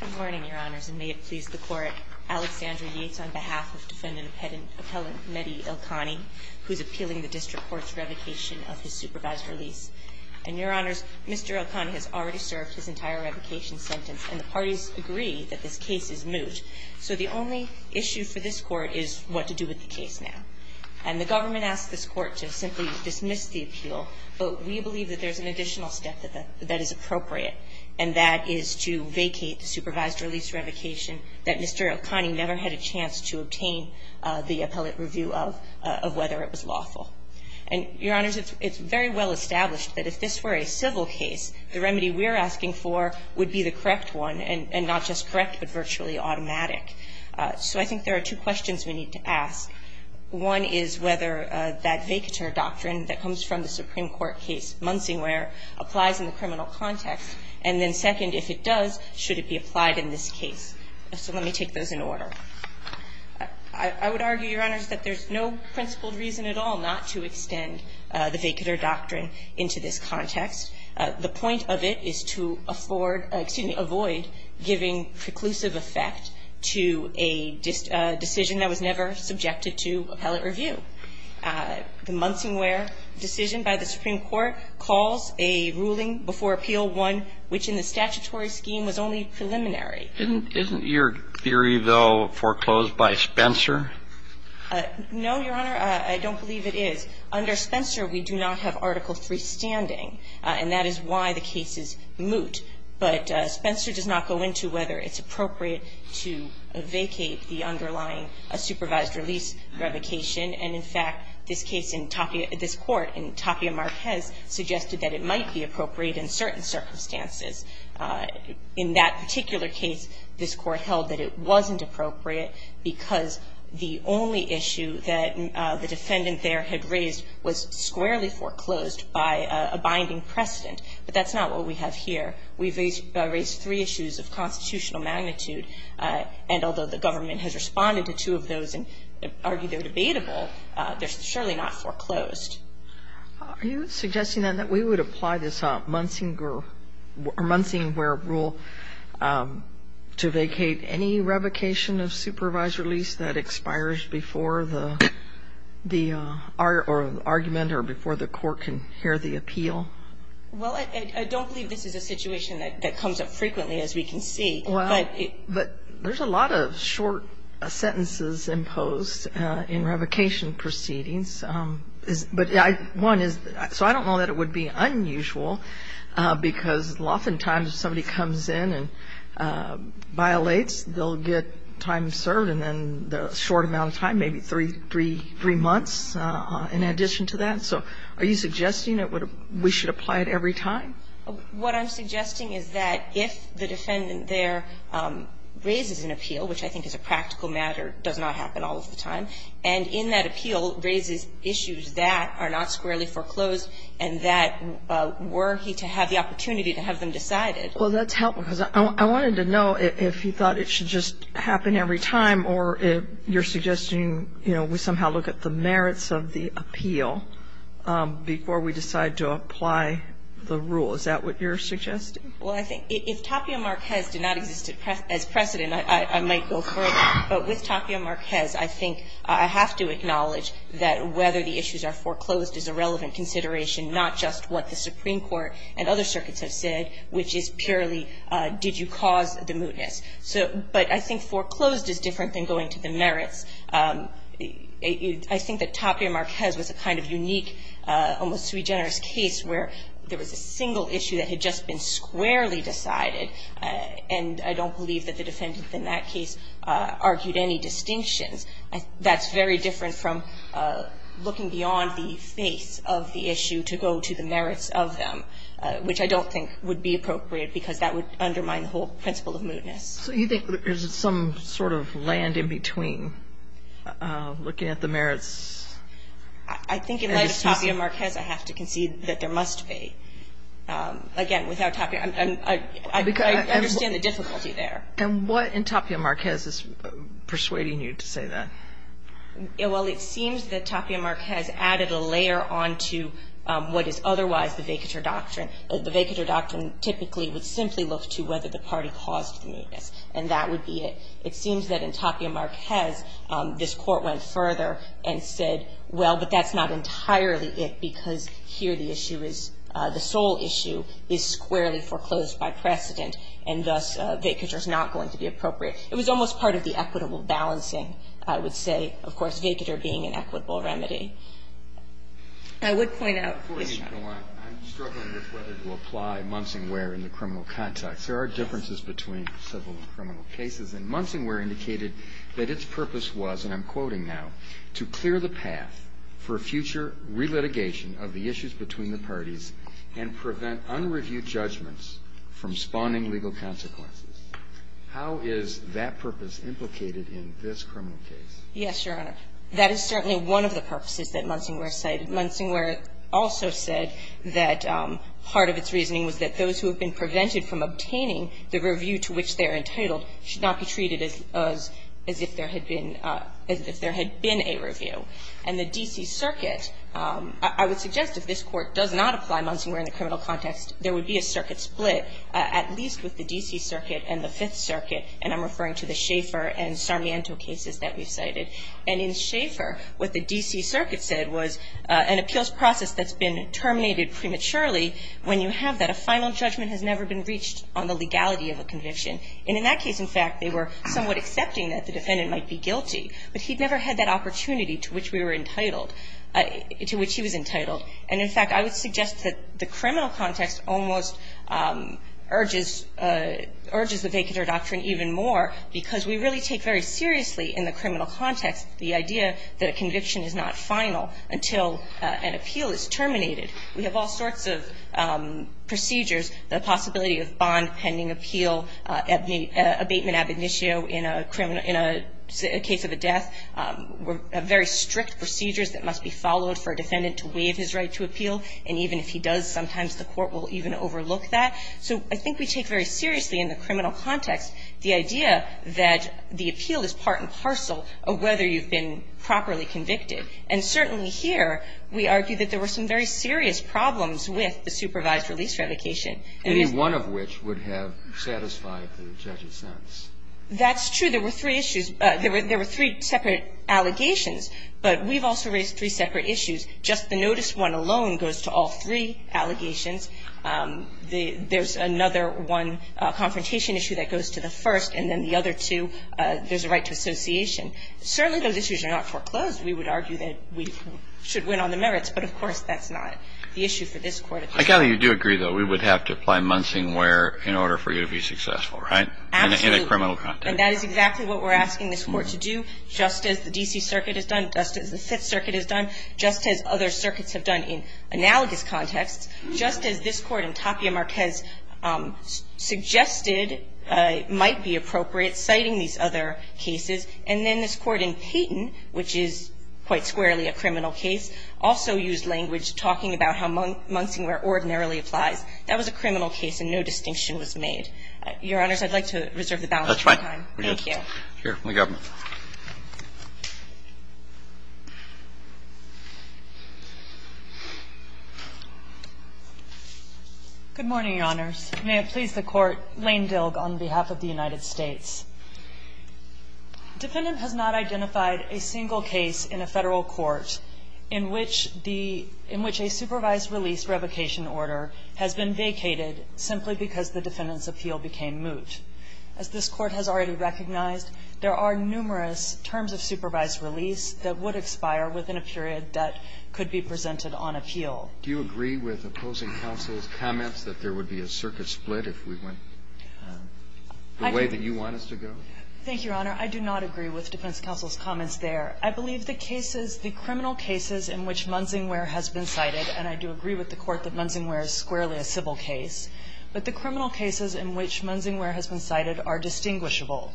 Good morning, your honors, and may it please the court, Alexandra Yates on behalf of defendant appellant Medhi Ilkhani, who's appealing the district court's revocation of his supervised release. And your honors, Mr. Ilkhani has already served his entire revocation sentence, and the parties agree that this case is moot. So the only issue for this court is what to do with the case now. And the government asked this court to simply dismiss the appeal, but we believe that there's an additional step that is appropriate, and that is to vacate the supervised release revocation that Mr. Ilkhani never had a chance to obtain the appellate review of, of whether it was lawful. And your honors, it's very well established that if this were a civil case, the remedy we're asking for would be the correct one, and not just correct, but virtually automatic. So I think there are two questions we need to ask. One is whether that vacatur doctrine that comes from the Supreme Court case Munsingware applies in the criminal context. And then second, if it does, should it be applied in this case? So let me take those in order. I would argue, your honors, that there's no principled reason at all not to extend the vacatur doctrine into this context. The point of it is to afford, excuse me, avoid giving preclusive effect to a decision that was never subjected to appellate review. The Munsingware decision by the Supreme Court calls a ruling before appeal one which in the statutory scheme was only preliminary. Isn't your theory, though, foreclosed by Spencer? No, your honor, I don't believe it is. Under Spencer, we do not have Article III standing. And that is why the cases moot. But Spencer does not go into whether it's appropriate to vacate the underlying supervised release revocation. And in fact, this case in Tapia, this court in Tapia Marquez suggested that it might be appropriate in certain circumstances. In that particular case, this court held that it wasn't appropriate because the only issue that the defendant there had raised was squarely foreclosed by a binding precedent. But that's not what we have here. We've raised three issues of constitutional magnitude. And although the government has responded to two of those and argued they're debatable, they're surely not foreclosed. Are you suggesting, then, that we would apply this Munsing rule to vacate any revocation of supervised release that expires before the argument or before the court can hear the appeal? Well, I don't believe this is a situation that comes up frequently, as we can see. But there's a lot of short sentences imposed in revocation proceedings. But one is, so I don't know that it would be unusual. Because oftentimes, if somebody comes in and violates, they'll get time served. And then the short amount of time, maybe three months in addition to that. So are you suggesting that we should apply it every time? What I'm suggesting is that if the defendant there raises an appeal, which I think is a practical matter, does not happen all of the time, and in that appeal raises issues that are not squarely foreclosed, and that were he to have the opportunity to have them decided. Well, that's helpful. Because I wanted to know if you thought it should just happen every time. Or if you're suggesting we somehow look at the merits of the appeal before we decide to apply the rule. Is that what you're suggesting? Well, I think if Tapio Marquez did not exist as precedent, I might go further. But with Tapio Marquez, I think I have to acknowledge that whether the issues are foreclosed is a relevant consideration, not just what the Supreme Court and other circuits have said, which is purely, did you cause the mootness? But I think foreclosed is different than going to the merits. I think that Tapio Marquez was a kind of unique, almost sui generis case, where there was a single issue that had just been squarely decided. And I don't believe that the defendant in that case argued any distinctions. That's very different from looking beyond the face of the issue to go to the merits of them, which I don't think would be appropriate, because that would undermine the whole principle of mootness. So you think there's some sort of land in between, looking at the merits? I think in light of Tapio Marquez, I have to concede that there must be. Again, without Tapio, I understand the difficulty there. And what in Tapio Marquez is persuading you to say that? Well, it seems that Tapio Marquez added a layer onto what is otherwise the vacatur doctrine. The vacatur doctrine typically would simply look to whether the party caused the mootness, and that would be it. It seems that in Tapio Marquez, this court went further and said, well, but that's not entirely it, because here the issue is, the sole issue, is squarely foreclosed by precedent, and thus vacatur is not going to be appropriate. It was almost part of the equitable balancing, I would say, of course, vacatur being an equitable remedy. I would point out, I'm struggling with whether to apply Munsingware in the criminal context. There are differences between civil and criminal cases, and Munsingware indicated that its purpose was, and I'm quoting now, to clear the path for future relitigation of the issues between the parties and prevent unreviewed judgments from spawning legal consequences. How is that purpose implicated in this criminal case? Yes, Your Honor. That is certainly one of the purposes that Munsingware cited. Munsingware also said that part of its reasoning was that those who have been prevented from obtaining the review to which they are entitled should not be treated as if there had been a review. And the D.C. Circuit, I would suggest if this Court does not apply Munsingware in the criminal context, there would be a circuit split, at least with the D.C. Circuit and the Fifth Circuit, and I'm referring to the Schaeffer and Sarmiento cases that we've cited. And in Schaeffer, what the D.C. Circuit said was an appeals process that's been terminated prematurely when you have that a final judgment has never been reached on the legality of a conviction. And in that case, in fact, they were somewhat accepting that the defendant might be guilty, but he'd never had that opportunity to which he was entitled. And in fact, I would suggest that the criminal context almost urges the vacant or doctrine even more because we really take very seriously in the criminal context the idea that a conviction is not final until an appeal is terminated. We have all sorts of procedures, the possibility of bond pending appeal, abatement ab initio in a criminal, in a case of a death, very strict procedures that must be followed for a defendant to waive his right to appeal. And even if he does, sometimes the court will even overlook that. So I think we take very seriously in the criminal context the idea that the appeal is part and parcel of whether you've been properly convicted. And certainly here, we argue that there were some very serious problems with the supervised release revocation. Any one of which would have satisfied the judge's sense. That's true. There were three issues. There were three separate allegations. But we've also raised three separate issues. Just the notice one alone goes to all three allegations. There's another one, a confrontation issue that goes to the first. And then the other two, there's a right to association. Certainly those issues are not foreclosed. We would argue that we should win on the merits. But of course, that's not the issue for this court. I gather you do agree, though, we would have to apply Munsingware in order for you to be successful, right? Absolutely. In a criminal context. And that is exactly what we're asking this court to do, just as the DC Circuit has done, just as the Fifth Circuit has done, just as other circuits have done in analogous contexts, just as this court in Tapia Marquez suggested might be appropriate citing these other cases. And then this court in Payton, which is quite squarely a criminal case, also used language talking about how Munsingware ordinarily applies. That was a criminal case, and no distinction was made. Your Honors, I'd like to reserve the balance of time. Thank you. Here. We got one. Good morning, Your Honors. May it please the Court. Lane Dilg on behalf of the United States. Defendant has not identified a single case in a Federal court in which the – in which a supervised release revocation order has been vacated simply because the defendant's appeal became moot. As this Court has already recognized, there are numerous terms of supervised release that would expire within a period that could be presented on appeal. Do you agree with opposing counsel's comments that there would be a circuit split if we went the way that you want us to go? Thank you, Your Honor. I do not agree with defense counsel's comments there. I believe the cases – the criminal cases in which Munsingware has been cited – and I do agree with the Court that Munsingware is squarely a civil case – but the cases that have been cited are distinguishable.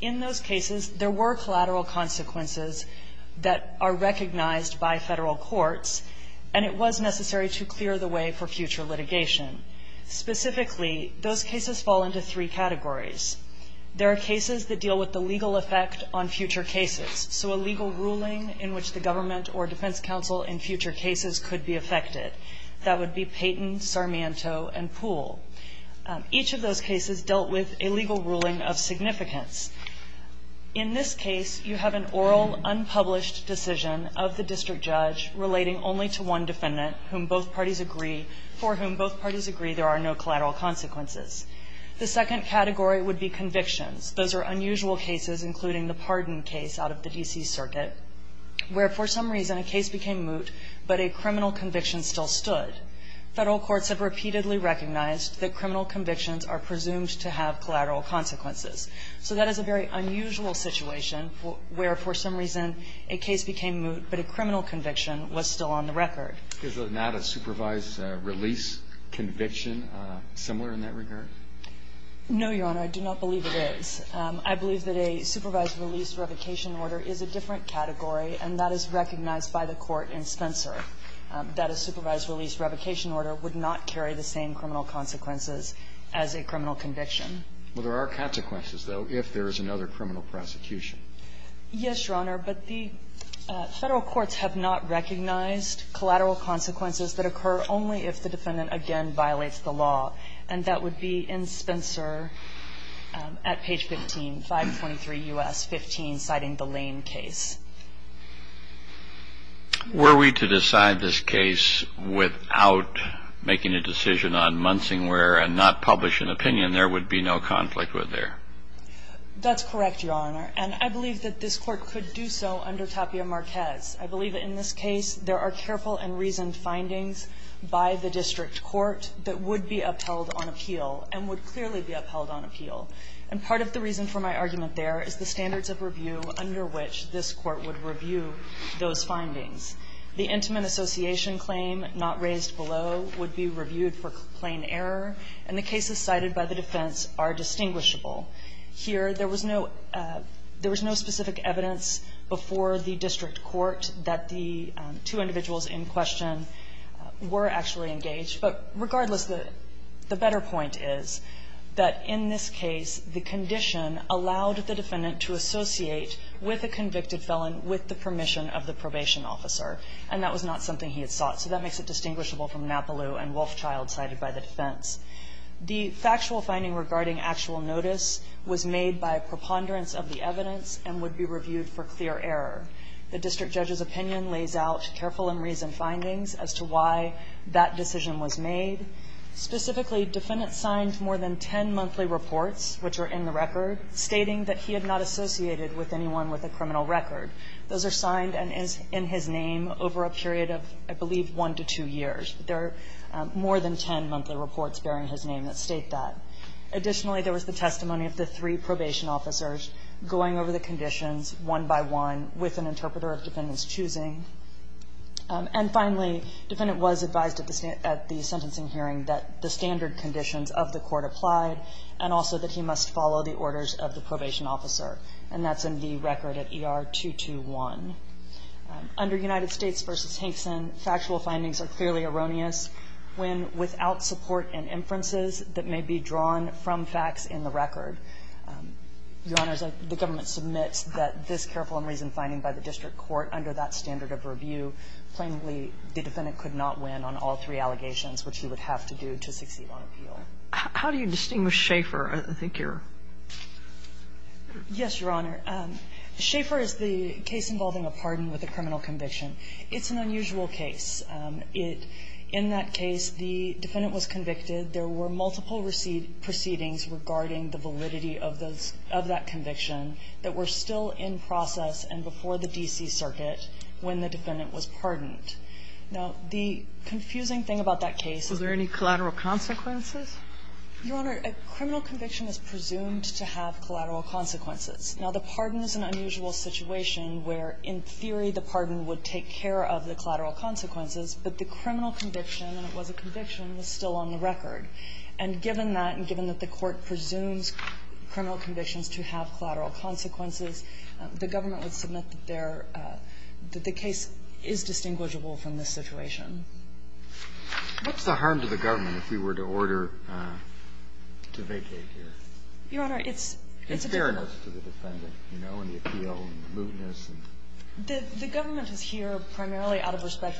In those cases, there were collateral consequences that are recognized by Federal courts, and it was necessary to clear the way for future litigation. Specifically, those cases fall into three categories. There are cases that deal with the legal effect on future cases, so a legal ruling in which the government or defense counsel in future cases could be affected. That would be Payton, Sarmiento, and Poole. Each of those cases dealt with a legal ruling of significance. In this case, you have an oral, unpublished decision of the district judge relating only to one defendant whom both parties agree – for whom both parties agree there are no collateral consequences. The second category would be convictions. Those are unusual cases, including the Pardon case out of the D.C. Circuit, where for some reason a case became moot, but a criminal conviction still stood. Federal courts have repeatedly recognized that criminal convictions are presumed to have collateral consequences. So that is a very unusual situation where for some reason a case became moot, but a criminal conviction was still on the record. Is it not a supervised release conviction, similar in that regard? No, Your Honor. I do not believe it is. I believe that a supervised release revocation order is a different category, and that is recognized by the Court in Spencer. That a supervised release revocation order would not carry the same criminal consequences as a criminal conviction. Well, there are consequences, though, if there is another criminal prosecution. Yes, Your Honor, but the Federal courts have not recognized collateral consequences that occur only if the defendant, again, violates the law. And that would be in Spencer at page 15, 523 U.S. 15, citing the Lane case. Were we to decide this case without making a decision on Munsingware and not publish an opinion, there would be no conflict with there? That's correct, Your Honor. And I believe that this Court could do so under Tapia Marquez. I believe in this case there are careful and reasoned findings by the district court that would be upheld on appeal, and would clearly be upheld on appeal. And part of the reason for my argument there is the standards of review under which this Court would review those findings. The intimate association claim not raised below would be reviewed for plain error, and the cases cited by the defense are distinguishable. Here, there was no specific evidence before the district court that the two individuals in question were actually engaged. But regardless, the better point is that in this case, the condition allowed the defendant to associate with a convicted felon with the permission of the probation officer. And that was not something he had sought. So that makes it distinguishable from Napoleau and Wolfchild, cited by the defense. The factual finding regarding actual notice was made by a preponderance of the evidence and would be reviewed for clear error. The district judge's opinion lays out careful and reasoned findings as to why that decision was made. Specifically, defendants signed more than 10 monthly reports, which are in the record, stating that he had not associated with anyone with a criminal record. Those are signed and is in his name over a period of, I believe, one to two years. There are more than 10 monthly reports bearing his name that state that. Additionally, there was the testimony of the three probation officers going over the conditions one by one with an interpreter of defendant's choosing. And finally, defendant was advised at the sentencing hearing that the standard conditions of the court applied and also that he must follow the orders of the probation officer. And that's in the record at ER-221. Under United States v. Hankson, factual findings are clearly erroneous when, without support and inferences that may be drawn from facts in the record, Your Honors, the government submits that this careful and reasoned finding by the district court under that standard of review, plainly, the defendant could not win on all three How do you distinguish Schaeffer? I think you're ---- Yes, Your Honor. Schaeffer is the case involving a pardon with a criminal conviction. It's an unusual case. It ---- in that case, the defendant was convicted. There were multiple proceedings regarding the validity of those ---- of that conviction that were still in process and before the D.C. Circuit when the defendant was pardoned. Now, the confusing thing about that case ---- Is there any collateral consequences? Your Honor, a criminal conviction is presumed to have collateral consequences. Now, the pardon is an unusual situation where, in theory, the pardon would take care of the collateral consequences, but the criminal conviction, and it was a conviction, was still on the record. And given that, and given that the Court presumes criminal convictions to have collateral consequences, the government would submit that there ---- that the case is distinguishable from this situation. What's the harm to the government if we were to order to vacate here? Your Honor, it's ---- It's fairness to the defendant, you know, and the appeal and the mootness and ---- The government is here primarily out of respect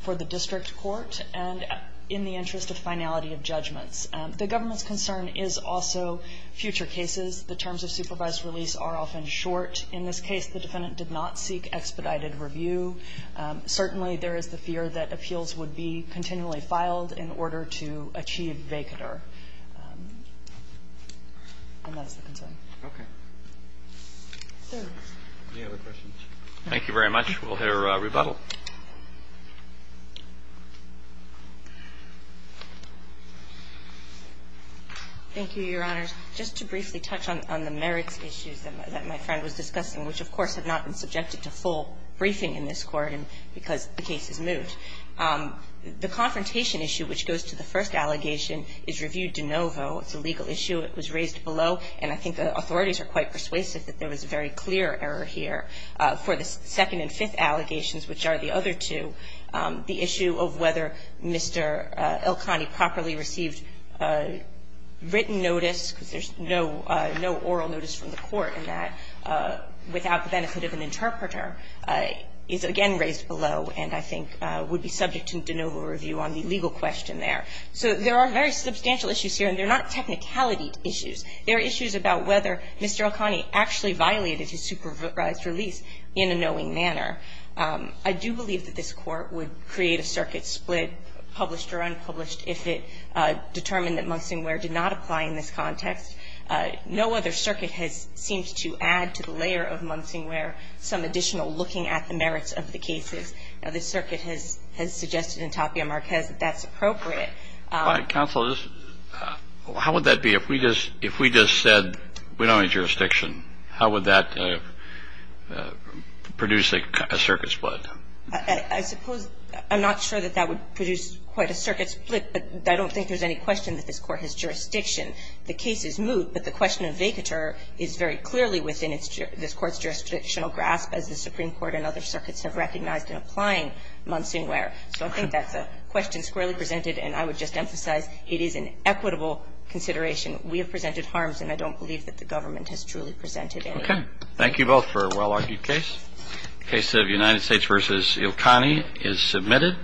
for the district court and in the interest of finality of judgments. The government's concern is also future cases. The terms of supervised release are often short. In this case, the defendant did not seek expedited review. Certainly, there is the fear that appeals would be continually filed in order to achieve vacater. And that is the concern. Okay. Any other questions? Thank you very much. We'll hear rebuttal. Thank you, Your Honors. Just to briefly touch on the merits issues that my friend was discussing, which, of course, have not been subjected to full briefing in this court because the case is moot. The confrontation issue, which goes to the first allegation, is reviewed de novo. It's a legal issue. It was raised below. And I think the authorities are quite persuasive that there was a very clear error here for the second and fifth allegations, which are the other two. The issue of whether Mr. Elkani properly received written notice, because there's no oral notice from the court in that, without the benefit of an interpreter, is again raised below and I think would be subject to de novo review on the legal question there. So there are very substantial issues here. And they're not technicality issues. They're issues about whether Mr. Elkani actually violated his supervised release in a knowing manner. I do believe that this Court would create a circuit split, published or unpublished, if it determined that Monsonware did not apply in this context. No other circuit has seemed to add to the layer of Monsonware some additional looking at the merits of the cases. Now, the circuit has suggested in Tapia Marquez that that's appropriate. But, counsel, how would that be if we just said we don't need jurisdiction? How would that produce a circuit split? I suppose I'm not sure that that would produce quite a circuit split, but I don't think there's any question that this Court has jurisdiction. The case is moot, but the question of vacatur is very clearly within this Court's jurisdictional grasp, as the Supreme Court and other circuits have recognized in applying Monsonware. So I think that's a question squarely presented, and I would just emphasize, it is an equitable consideration. We have presented harms, and I don't believe that the government has truly presented any. Okay. Thank you both for a well-argued case. Case of United States v. Elkani is submitted.